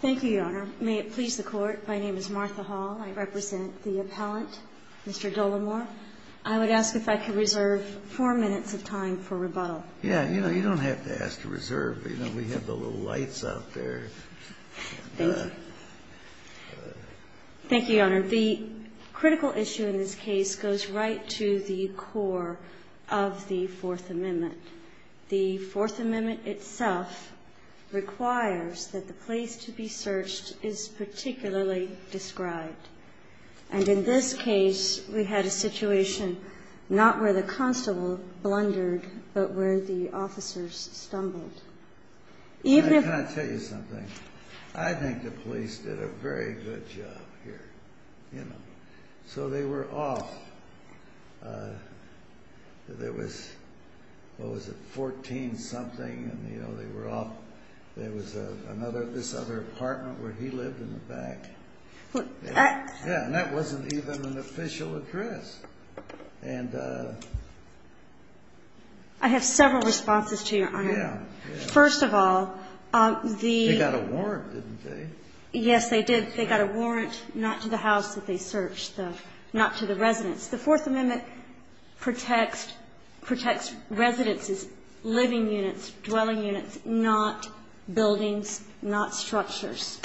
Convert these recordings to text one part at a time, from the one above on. Thank you, Your Honor. May it please the Court, my name is Martha Hall. I represent the appellant, Mr. Dolamore. I would ask if I could reserve four minutes of time for rebuttal. Yeah, you know, you don't have to ask to reserve. You know, we have the little lights out there. Thank you. Thank you, Your Honor. The critical issue in this case goes right to the core of the Fourth Amendment. The Fourth Amendment itself requires that the place to be searched is particularly described. And in this case, we had a situation not where the constable blundered, but where the officers stumbled. Can I tell you something? I think the police did a very good job here, you know. So they were off. There was, what was it, 14-something and, you know, they were off. There was another, this other apartment where he lived in the back. Yeah, and that wasn't even an official address. I have several responses to you, Your Honor. First of all, the... They got a warrant, didn't they? Yes, they did. They got a warrant not to the house that they searched, not to the residence. The Fourth Amendment protects residences, living units, dwelling units, not buildings, not structures.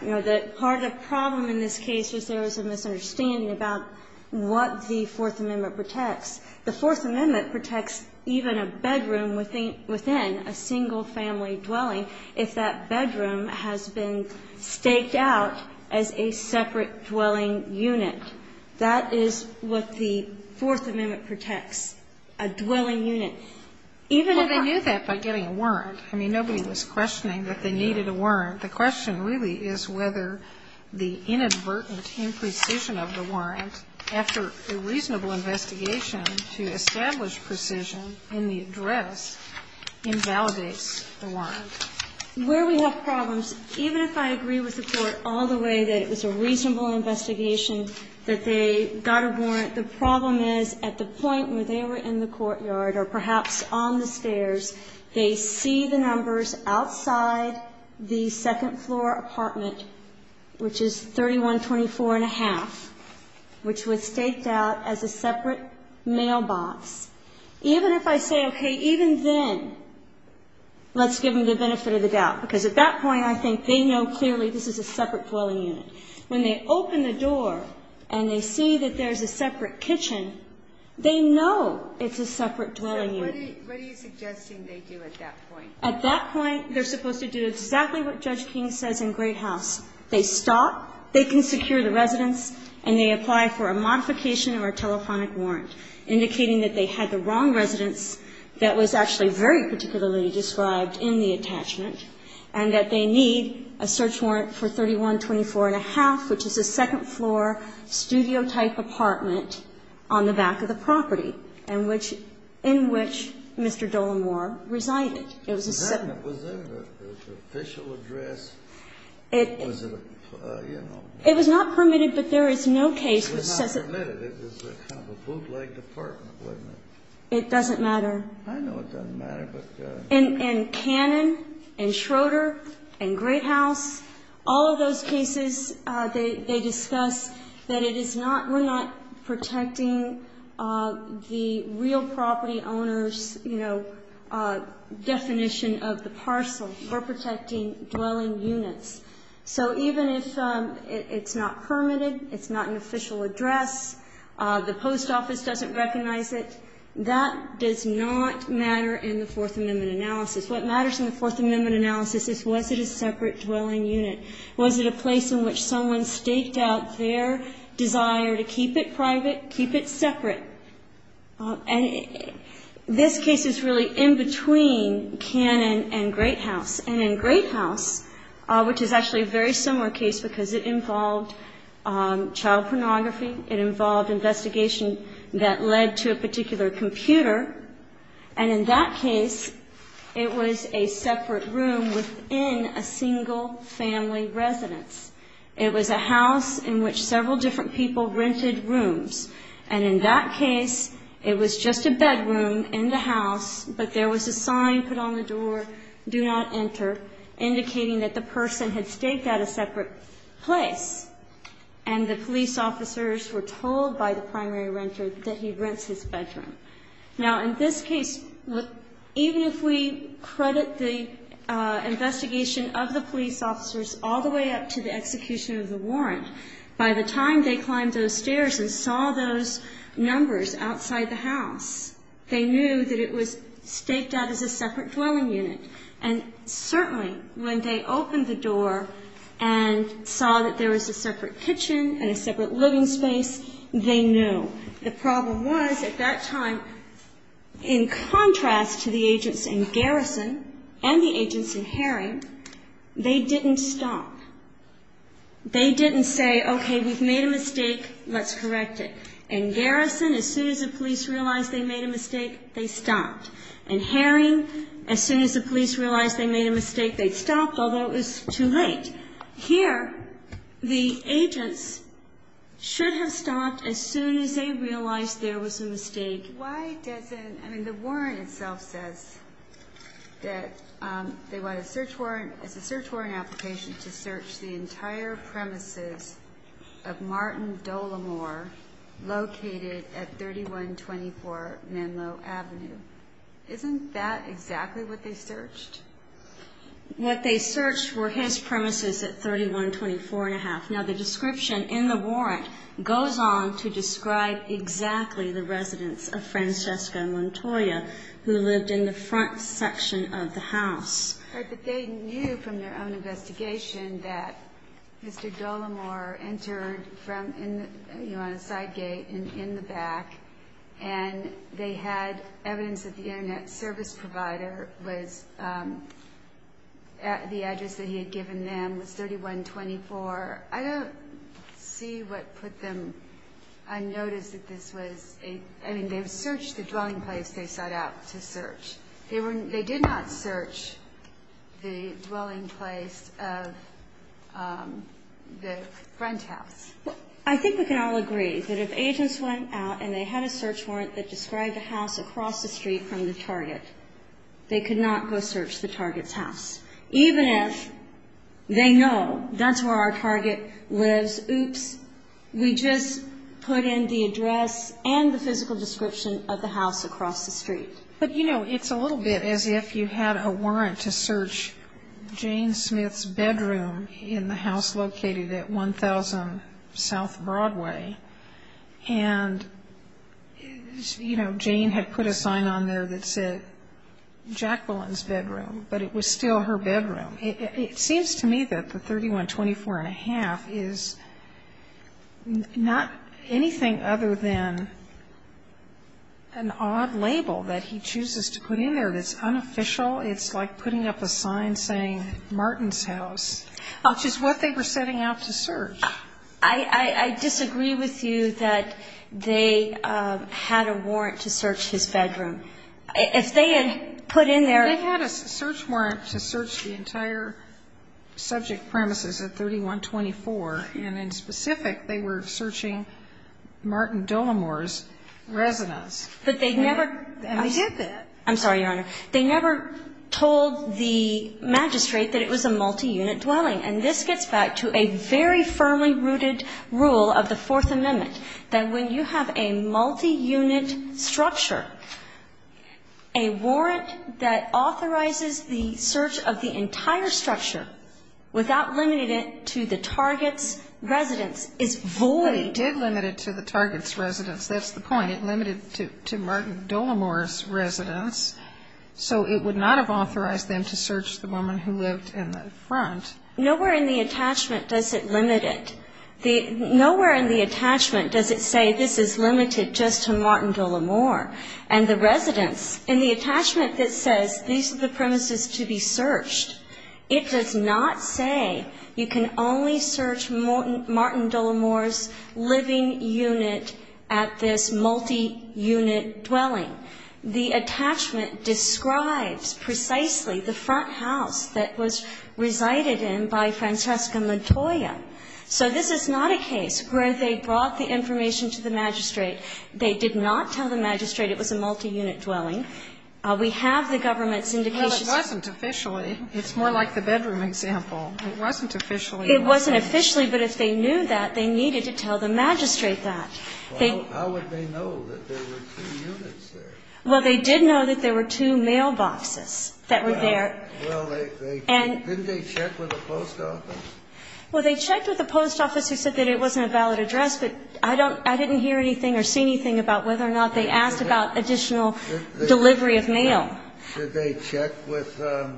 You know, part of the problem in this case was there was a misunderstanding about what the Fourth Amendment protects. The Fourth Amendment protects even a bedroom within a single-family dwelling if that bedroom has been staked out as a separate dwelling unit. That is what the Fourth Amendment protects, a dwelling unit. Well, they knew that by getting a warrant. I mean, nobody was questioning that they needed a warrant. The question really is whether the inadvertent imprecision of the warrant after a reasonable investigation to establish precision in the address invalidates the warrant. Where we have problems, even if I agree with the Court all the way that it was a reasonable investigation that they got a warrant, the problem is at the point where they were in the courtyard or perhaps on the stairs, they see the numbers outside the second-floor apartment, which is 3124.5, which was staked out as a separate mailbox. Even if I say, okay, even then, let's give them the benefit of the doubt, because at that point I think they know clearly this is a separate dwelling unit. When they open the door and they see that there's a separate kitchen, they know it's a separate dwelling unit. What are you suggesting they do at that point? At that point, they're supposed to do exactly what Judge King says in Great House. They stop, they can secure the residence, and they apply for a modification or a telephonic warrant, indicating that they had the wrong residence that was actually very particularly described in the attachment and that they need a search warrant for 3124.5, which is a second-floor studio-type apartment on the back of the property, in which Mr. Dolemore resided. Was there an official address? It was not permitted, but there is no case that says it. It was not permitted. It was kind of a bootleg department, wasn't it? It doesn't matter. I know it doesn't matter, but... In Cannon and Schroeder and Great House, all of those cases, they discuss that it is not, we're not protecting the real property owner's, you know, definition of the parcel. We're protecting dwelling units. So even if it's not permitted, it's not an official address, the post office doesn't recognize it, that does not matter in the Fourth Amendment analysis. What matters in the Fourth Amendment analysis is was it a separate dwelling unit? Was it a place in which someone staked out their desire to keep it private, keep it separate? And this case is really in between Cannon and Great House. And in Great House, which is actually a very similar case, because it involved child pornography, it involved investigation that led to a particular computer, and in that case, it was a separate room within a single family residence. It was a house in which several different people rented rooms. And in that case, it was just a bedroom in the house, but there was a sign put on the door, do not enter, indicating that the person had staked out a separate place. And the police officers were told by the primary renter that he rents his bedroom. Now, in this case, even if we credit the investigation of the police officers all the way up to the execution of the warrant, by the time they climbed those stairs and saw those numbers outside the house, they knew that it was staked out as a separate dwelling unit. And certainly, when they opened the door and saw that there was a separate kitchen and a separate living space, they knew. The problem was, at that time, in contrast to the agents in Garrison and the agents in Herring, they didn't stop. They didn't say, okay, we've made a mistake, let's correct it. In Garrison, as soon as the police realized they made a mistake, they stopped. In Herring, as soon as the police realized they made a mistake, they stopped, although it was too late. Here, the agents should have stopped as soon as they realized there was a mistake. Why doesn't, I mean, the warrant itself says that they want a search warrant, it's a search warrant application to search the entire premises of Martin Dolamore, located at 3124 Menlo Avenue. Isn't that exactly what they searched? What they searched were his premises at 3124 and a half. Now the description in the warrant goes on to describe exactly the residence of Francesca Montoya, who lived in the front section of the house. But they knew from their own investigation that Mr. Dolamore entered from, you know, on a side gate and in the back and they had evidence that the internet service provider was, the address that he had given them was 3124. I don't see what put them unnoticed that this was, I mean, they searched the dwelling place they set out to search. They did not search the dwelling place of the front house. I think we can all agree that if agents went out and they had a search warrant that described a house across the street from the target, they could not go search the target's house. Even if they know that's where our target lives, oops, we just put in the address and the physical description of the house across the street. But, you know, it's a little bit as if you had a warrant to search Jane Smith's bedroom in the house located at 1000 South Broadway and, you know, Jane had put a sign on there that said Jacqueline's bedroom, but it was still her bedroom. It seems to me that the 3124.5 is not anything other than an odd label that he chooses to put in there that's unofficial. It's like putting up a sign saying Martin's house, which is what they were setting out to search. I disagree with you that they had a warrant to search his bedroom. If they had put in there... They had a search warrant to search the entire subject premises at 3124. And in specific, they were searching Martin Delamore's residence. But they never... And they did that. I'm sorry, Your Honor. They never told the magistrate that it was a multi-unit dwelling. And this gets back to a very firmly rooted rule of the Fourth Amendment that when you have a multi-unit structure, a warrant that authorizes the search of the entire structure without limiting it to the target's residence is void. But it did limit it to the target's residence. That's the point. It limited it to Martin Delamore's residence. So it would not have authorized them to search the woman who lived in the front. Nowhere in the attachment does it limit it. Nowhere in the attachment does it say this is limited just to Martin Delamore and the residence. In the attachment that says these are the premises to be searched, it does not say you can only search Martin Delamore's living unit at this multi-unit dwelling. The attachment describes precisely the front house that was resided in by Francesca Montoya. So this is not a case where they brought the information to the magistrate. They did not tell the magistrate it was a multi-unit dwelling. We have the government's indications... Well, it wasn't officially. It's more like the bedroom example. It wasn't officially. It wasn't officially, but if they knew that, they needed to tell the magistrate that. Well, how would they know that there were two units there? Well, they did know that there were two mailboxes that were there. Well, didn't they check with the post office? Well, they checked with the post office. They said that it wasn't a valid address, but I didn't hear anything or see anything about whether or not they asked about additional delivery of mail. Did they check with the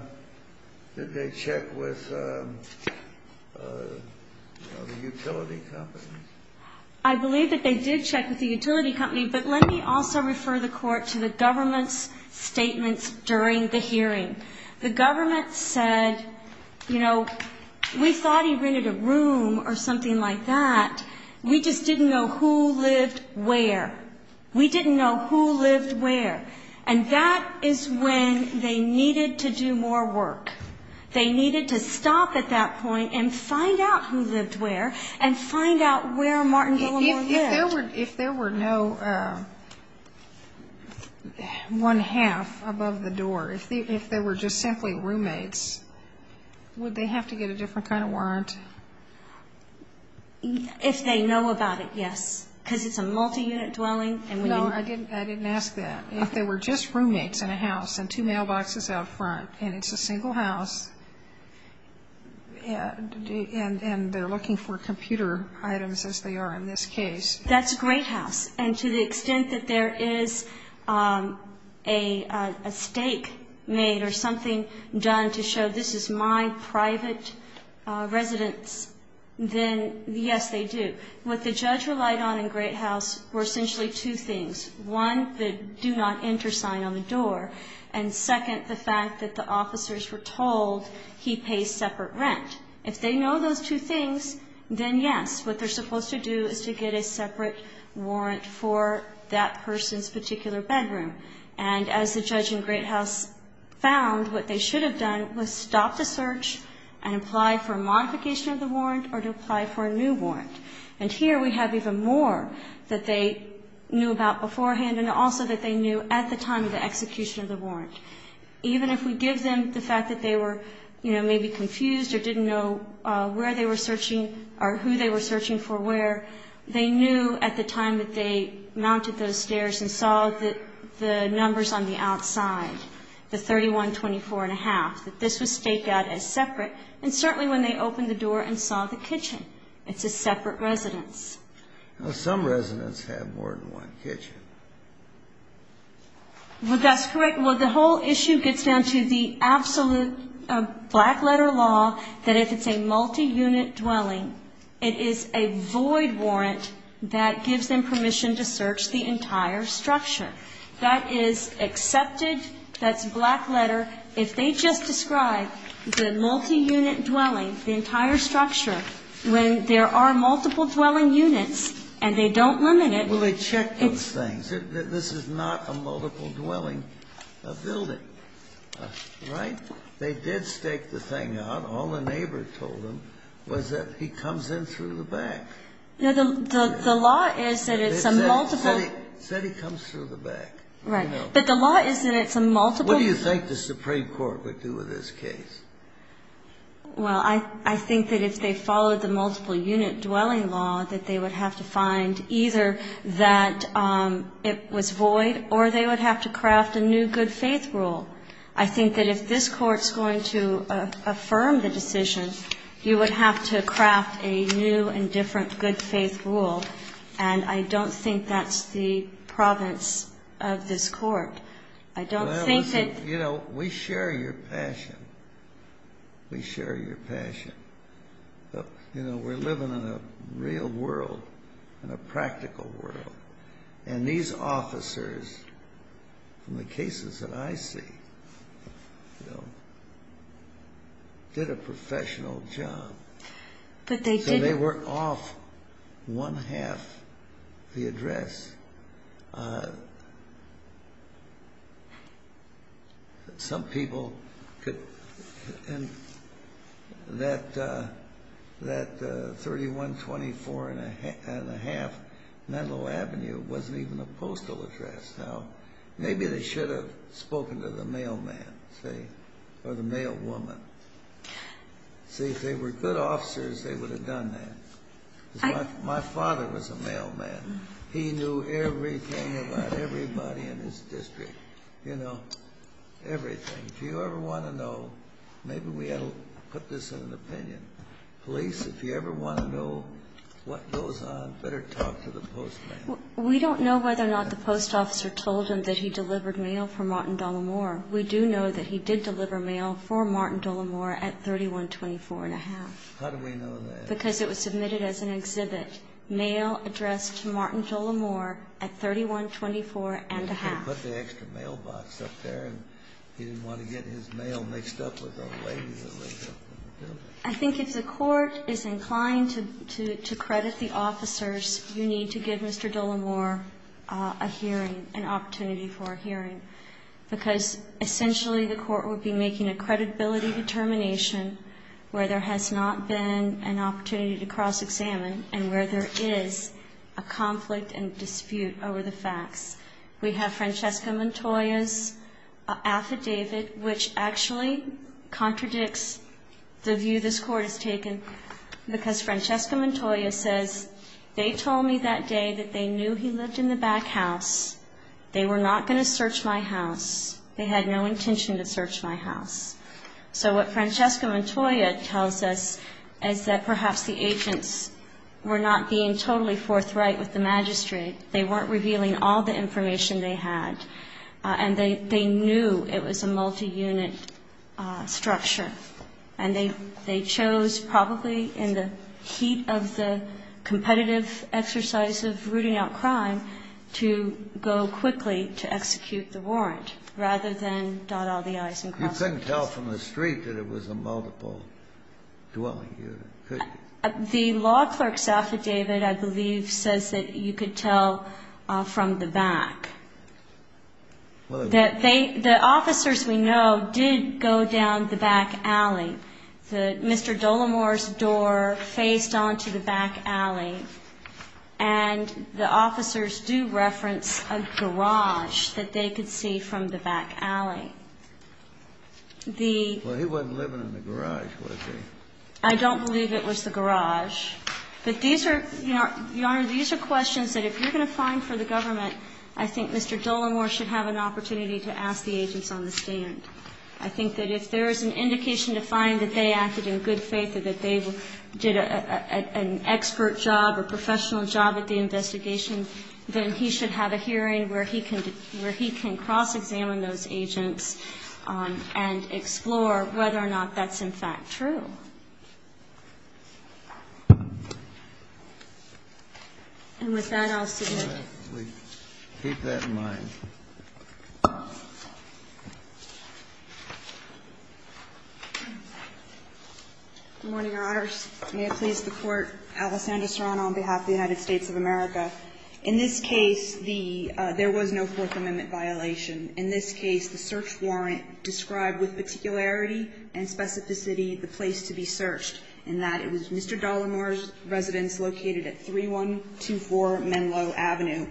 utility companies? I believe that they did check with the utility company, but let me also refer the Court to the government's statements during the hearing. The government said, you know, we thought he rented a room or something like that. We just didn't know who lived where. We didn't know who lived where. And that is when they needed to do more work. They needed to stop at that point and find out who lived where and find out where Martin Dillon lived. If there were no one half above the door, if they were just simply roommates, would they have to get a different kind of warrant? If they know about it, yes, because it's a multi-unit dwelling. No, I didn't ask that. If they were just roommates in a house and two mailboxes out front and it's a single house and they're looking for computer items, as they are in this case. That's Great House. And to the extent that there is a stake made or something done to show this is my private residence, then, yes, they do. What the judge relied on in Great House were essentially two things. One, the do not enter sign on the door. And second, the fact that the officers were told he pays separate rent. If they know those two things, then, yes, what they're supposed to do is to get a separate warrant for that person's particular bedroom. And as the judge in Great House found, what they should have done was stop the search and apply for a modification of the warrant or to apply for a new warrant. And here we have even more that they knew about beforehand and also that they knew at the time of the execution of the warrant. Even if we give them the fact that they were maybe confused or didn't know where they were searching or who they were searching for where, they knew at the time that they mounted those stairs and saw the numbers on the outside, the 31, 24 and a half, that this was staked out as separate and certainly when they opened the door and saw the kitchen. It's a separate residence. Some residents have more than one kitchen. Well, that's correct. Well, the whole issue gets down to the absolute black letter law that if it's a multi-unit dwelling, it is a void warrant that gives them permission to search the entire structure. That is accepted. That's black letter. If they just describe the multi-unit dwelling, the entire structure, when there are multiple dwelling units and they don't limit it. Well, they checked those things. This is not a multiple-dwelling building. Right? They did stake the thing out. All the neighbors told them was that he comes in through the back. The law is that it's a multiple. It said he comes through the back. Right. But the law is that it's a multiple. What do you think the Supreme Court would do with this case? Well, I think that if they followed the multiple-unit dwelling law that they would have to find either that it was void or they would have to craft a new good-faith rule. I think that if this Court's going to affirm the decision, you would have to craft a new and different good-faith rule and I don't think that's the province of this Court. I don't think that... You know, we share your passion. We share your passion. You know, we're living in a real world, in a practical world and these officers from the cases that I see did a professional job. But they didn't... So they were off one-half the address. Some people could... That... That 3124 and a half Menlo Avenue wasn't even a postal address. Now, maybe they should have spoken to the mailman or the mailwoman. See, if they were good officers they would have done that. My father was a mailman. He knew everything about everybody in his district. You know, everything. If you ever want to know maybe we ought to put this in an opinion. Police, if you ever want to know what goes on better talk to the postman. We don't know whether or not the post officer told him that he delivered mail for Martin D'Olemore. We do know that he did deliver mail for Martin D'Olemore at 3124 and a half. How do we know that? Because it was submitted as an exhibit. Mail addressed to Martin D'Olemore at 3124 and a half. He put the extra mailbox up there and he didn't want to get his mail mixed up with other ladies. I think if the court is inclined to credit the officers, you need to give Mr. D'Olemore a hearing an opportunity for a hearing because essentially the court would be making a credibility determination where there has not been an opportunity to cross examine and where there is a conflict and dispute over the facts. We have Francesca Montoya's affidavit which actually contradicts the view this court has taken because Francesca Montoya says they told me that day that they knew he lived in the back house they were not going to search my house they had no intention to search my house. So what Francesca Montoya tells us is that perhaps the agents were not being totally forthright with the magistrate. They weren't revealing all the information they had and they knew it was a multi-unit structure and they chose probably in the heat of the competitive exercise of rooting out crime to go quickly to execute the warrant rather than dot all the i's and cross all the i's. You couldn't tell from the street that it was a multiple dwelling unit, could you? The law clerk's affidavit I believe says that you could tell from the back that they the officers we know did go down the back alley Mr. Dolemore's door faced onto the back alley and the officers do reference a garage that they could see from the back alley Well he wasn't living in the garage was he? I don't believe it was the garage But these are questions that if you're going to find for the government, I think Mr. Dolemore should have an opportunity to ask the agents on the stand. I think that if there is an indication to find that they acted in good faith or that they did an expert job or professional job at the investigation then he should have a hearing where he can cross examine those agents and explore whether or not that's in fact true And with that I'll submit Keep that in mind Good morning your honors May it please the court, Alessandra Serrano on behalf of the United States of America In this case there was no fourth amendment violation In this case the search warrant described with particularity and specificity the place to be searched and that it was Mr. Dolemore's residence located at 3124 Menlo Avenue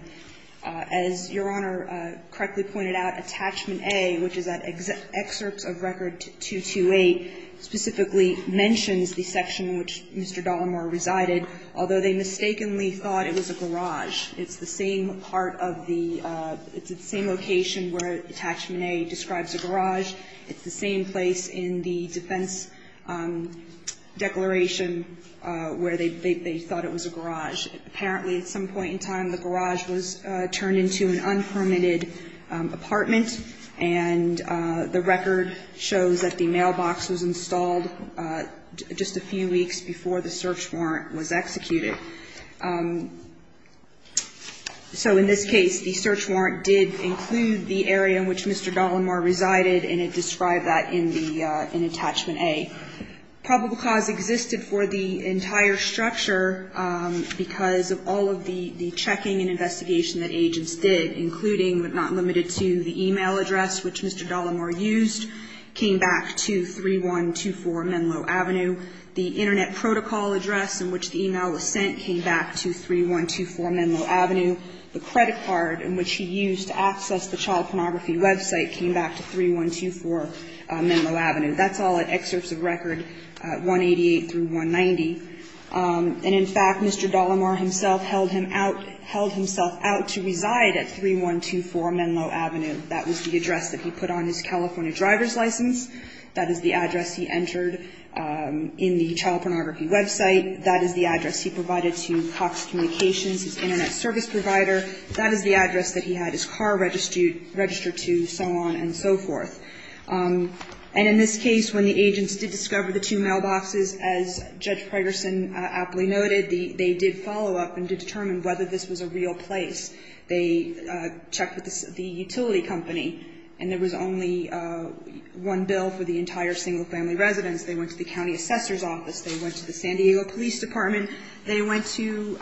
As your honor correctly pointed out, attachment A which is at excerpts of record 228 specifically mentions the section which Mr. Dolemore resided, although they mistakenly thought it was a garage It's the same part of the It's the same location where attachment A describes a garage It's the same place in the defense declaration where they thought it was a garage. Apparently at some point in time the garage was turned into an unpermitted apartment and the record shows that the mailbox was installed just a few weeks before the search warrant was executed So in this case the search warrant did include the area in which Mr. Dolemore resided and it described that in attachment A Probable cause existed for the entire structure because of all of the checking and investigation that agents did including but not limited to the email address which Mr. Dolemore used came back to 3124 Menlo Avenue The internet protocol address in which the email was sent came back to 3124 Menlo Avenue The credit card in which he used to access the child pornography website came back to 3124 Menlo Avenue That's all at excerpts of record 188-190 And in fact Mr. Dolemore himself held himself out to reside at 3124 Menlo Avenue That was the address that he put on his California driver's license. That is the address he entered in the child pornography website. That is the address he provided to Cox Communications his internet service provider That is the address that he had his car registered to and so on and so forth And in this case when the agents did discover the two mailboxes as Judge Pregerson aptly noted they did follow up and determine whether this was a real place. They checked with the utility company and there was only one bill for the entire single family residence. They went to the county assessor's office. They went to the San Diego police department. They went to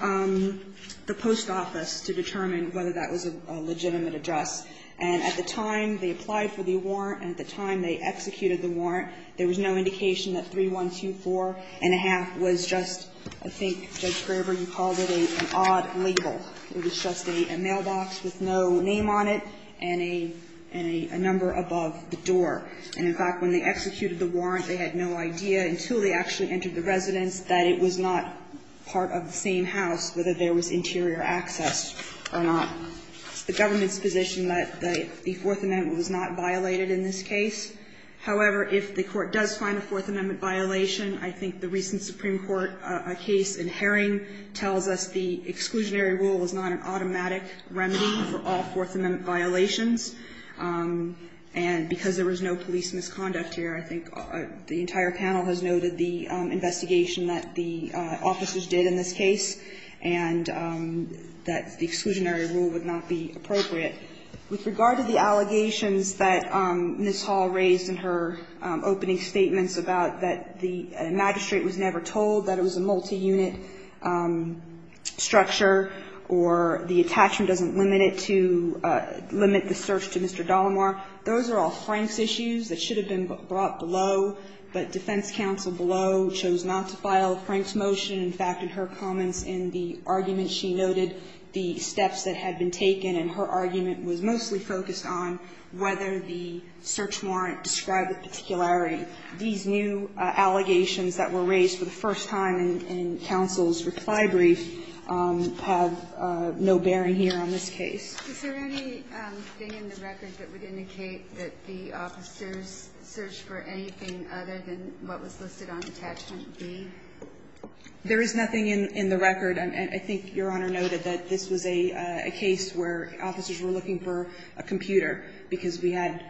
the post office to determine whether that was a legitimate address and at the time they applied for the warrant and at the time they executed the warrant there was no indication that 3124 and a half was just I think Judge Graber called it an odd label It was just a mailbox with no name on it and a number above the door And in fact when they executed the warrant they had no idea until they actually entered the residence that it was not part of the same house whether there was the government's position that the Fourth Amendment was not violated in this case. However, if the court does find a Fourth Amendment violation I think the recent Supreme Court case in Herring tells us the exclusionary rule is not an automatic remedy for all Fourth Amendment violations and because there was no police misconduct here I think the entire panel has noted the investigation that the officers did in this case and that the exclusionary rule would not be appropriate. With regard to the allegations that Ms. Hall raised in her opening statements about that the magistrate was never told that it was a multi-unit structure or the attachment doesn't limit it to limit the search to Mr. Dolomar those are all Frank's issues that should have been brought below but defense counsel below chose not to file Frank's motion. In fact in her comments in the argument she noted the steps that had been taken and her argument was mostly focused on whether the search warrant described the particularity. These new allegations that were raised for the first time in counsel's reply brief have no bearing here on this case. Is there anything in the record that would indicate that the officers searched for anything other than what was listed on attachment B? There is nothing in the record and I think Your Honor noted that this was a case where officers were looking for a computer because we had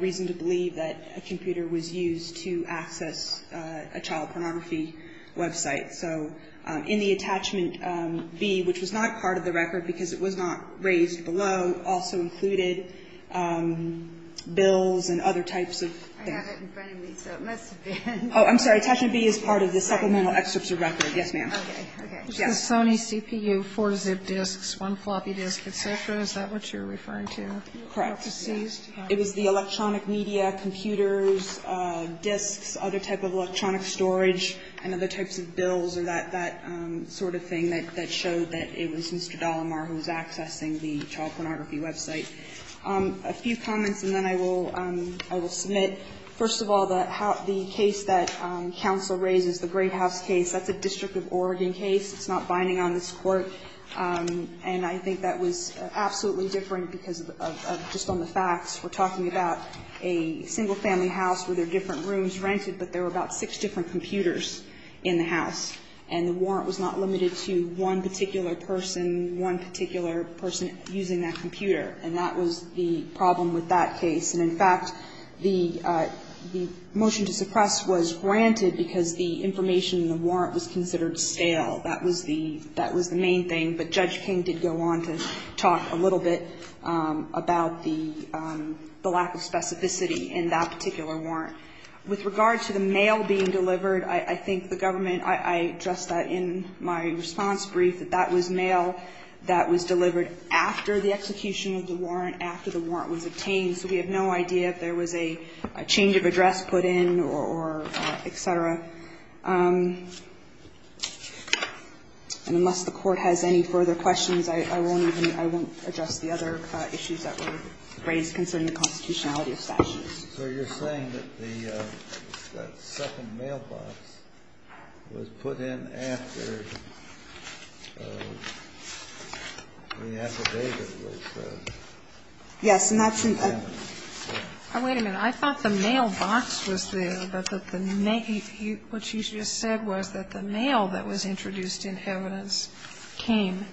reason to believe that a computer was used to access a child pornography website. So in the attachment B which was not part of the record because it was not raised below also included bills and other types of things. I have it in front of me so it must have been. Oh, I'm sorry. Attachment B is part of the supplemental excerpts of record. Yes ma'am. Sony CPU, four ZIP disks, one floppy disk, etc. Is that what you're referring to? Correct. It was the electronic media, computers, disks, other type of electronic storage and other types of bills or that sort of thing that showed that it was Mr. Dallamar who was accessing the child pornography website. A few comments and then I will submit. First of all, the case that counsel raises, the Great House case, that's a district of Oregon case. It's not binding on this Court and I think that was absolutely different because of just on the facts. We're talking about a single family house with their different rooms rented but there were about six different computers in the house and the warrant was not limited to one particular person, one particular person using that computer and that was the problem with that case and in fact the motion to suppress was granted because the information in the warrant was considered stale. That was the main thing but Judge King did go on to talk a little bit about the lack of specificity in that particular warrant. With regard to the mail being delivered I think the government, I addressed that in my response brief that that was mail that was delivered after the execution of the case and so we have no idea if there was a change of address put in or etc. Unless the Court has any further questions I won't address the other issues that were raised concerning the constitutionality of statutes. So you're saying that the second mailbox was put in after the affidavit was approved? Yes. Wait a minute. I thought the mailbox was there but what you just said was that the mail that was introduced in evidence came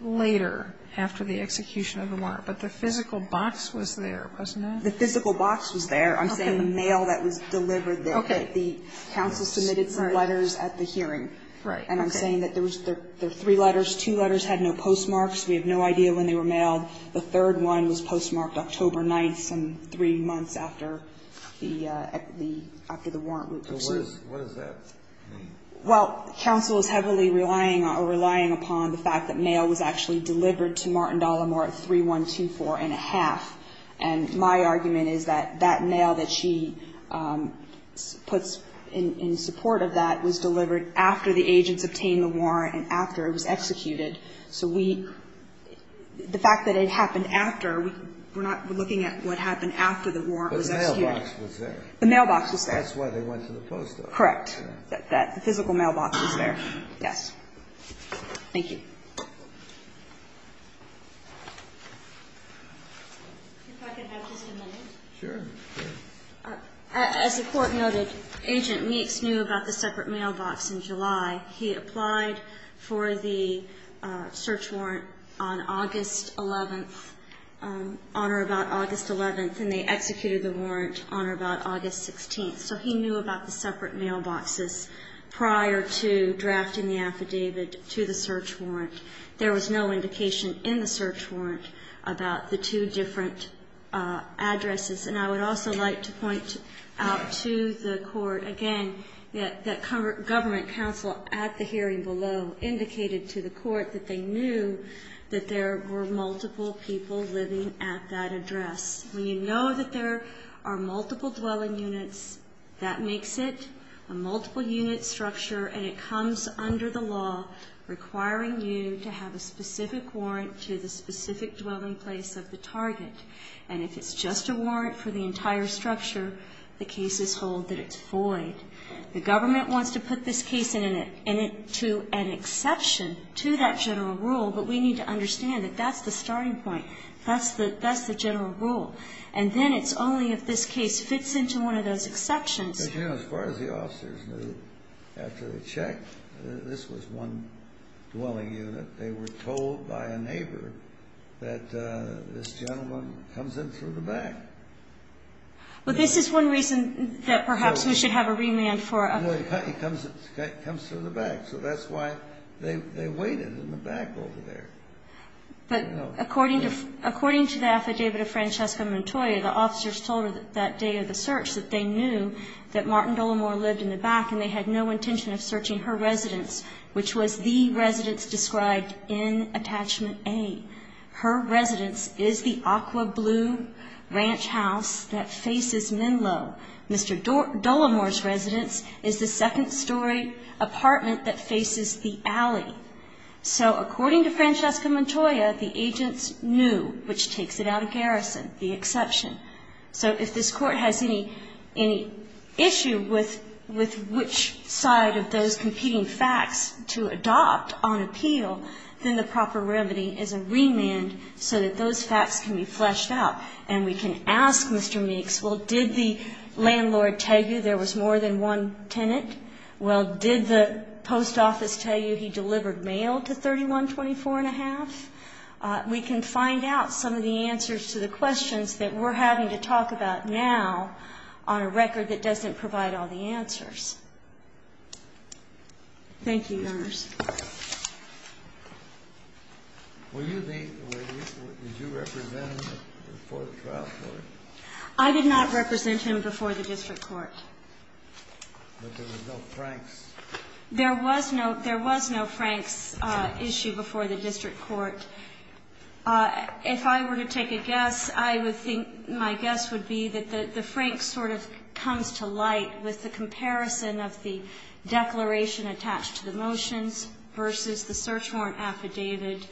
later after the execution of the warrant but the physical box was there, wasn't it? The physical box was there. I'm saying the mail that was delivered there. Okay. The counsel submitted some letters at the hearing and I'm saying that there were three letters. Two letters had no postmarks. We have no idea when they were mailed. The third one was postmarked October 9th, some three months after the warrant was issued. What does that mean? Well, counsel is heavily relying upon the fact that mail was actually delivered to Martin Dallimore at 3124 and a half and my argument is that that mail that she puts in support of that was delivered after the agents obtained the warrant and after it was executed so we the fact that it happened after we're not looking at what happened after the warrant was executed. The mailbox was there. Correct. The physical mailbox was there. Thank you. If I could have just a minute. Sure. As the Court noted, Agent Meeks knew about the separate mailbox in July. He applied for the search warrant on August 11th, on or about August 11th and they executed the warrant on or about August 16th so he knew about the separate mailboxes prior to drafting the affidavit to the search warrant. There was no indication in the search warrant about the two different addresses and I would also like to point out to the Court again that Government Counsel at the hearing below indicated to the Court that they knew that there were multiple people living at that address. When you know that there are multiple dwelling units, that makes it a multiple unit structure and it comes under the law requiring you to have a specific warrant to the specific dwelling place of the target and if it's just a warrant for the entire structure, the cases hold that it's void. The Government wants to put this case into an exception to that general rule, but we need to understand that that's the starting point. That's the general rule. And then it's only if this case fits into one of those exceptions. As far as the officers knew, after they checked, this was one dwelling unit, they were told by a neighbor that this gentleman comes in through the back. But this is one reason that perhaps we should have a remand for a... No, he comes through the back, so that's why they waited in the back over there. But according to the affidavit of Francesca Montoya, the officers told her that day of the search that they knew that Martin Dullimore lived in the back and they had no intention of searching her residence, which was the residence described in Attachment A. Her residence is the aqua blue ranch house that faces Menlo. Mr. Dullimore's residence is the second-story apartment that faces the alley. So according to Francesca Montoya, the agents knew, which takes it out of garrison, the exception. So if this Court has any issue with which side of those competing facts to adopt on appeal, then the proper remedy is a remand so that those facts can be fleshed out. And we can ask Mr. Meeks, well, did the landlord tell you there was more than one tenant? Well, did the post office tell you he delivered mail to 3124 and a half? We can find out some of the answers to the questions that we're having to talk about now on a record that doesn't provide all the answers. Thank you, Your Honors. Were you the witness? Did you represent him before the trial court? I did not represent him before the District Court. But there was no Frank's? There was no Frank's issue before the District Court. If I were to take a guess, I would think my guess would be that the Frank sort of comes to light with the comparison of the declaration attached to the motions versus the search warrant affidavit.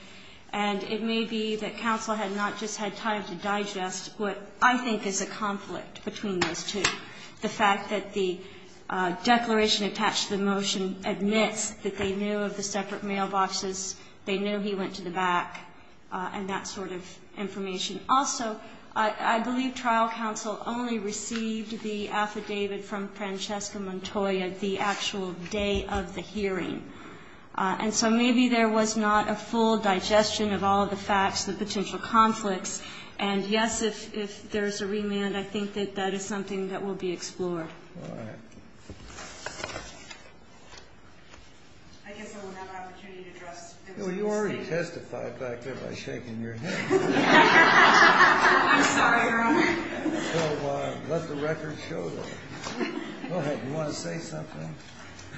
And it may be that counsel had not just had time to digest what I think is a conflict between those two. The fact that the declaration attached to the motion admits that they knew of the separate mailboxes, they knew he went to the district court. there may have been some additional information. Also, I believe trial counsel only received the affidavit from Francesca Montoya the actual day of the hearing. And so maybe there was not a full digestion of all the facts, the potential conflicts. And yes, if there's a remand, I think that that is something that will be discussed. I'm sorry, Your Honor. So let the record show that. Go ahead. You want to say something?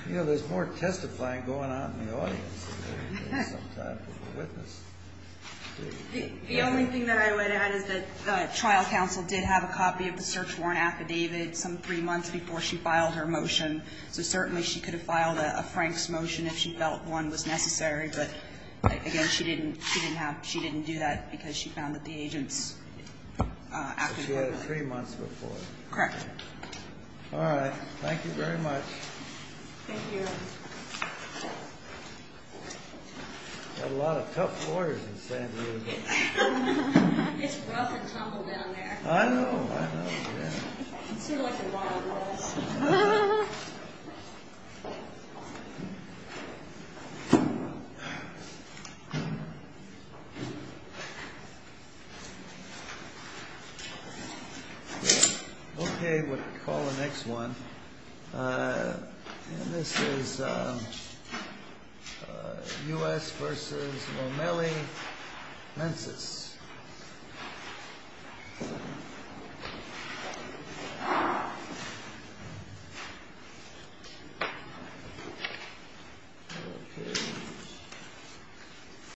You know, there's more testifying going on in the audience than there is some time for the witness. The only thing that I would add is that trial counsel did have a copy of the search warrant affidavit some three months before she filed her motion. So certainly she could have filed a Frank's motion if she felt one was necessary, but again, she didn't have, she didn't do that because she found that the agent's affidavit. She had it three months before. Correct. All right. Thank you very much. Thank you, Your Honor. Got a lot of tough lawyers in San Diego. It's rough and tumble down there. I know, I know, yeah. Sort of like the Ronald Rolls. Okay. Okay, we'll call the next one. And this is U.S. versus Momeli Mensis. Versus Momeli Mensis.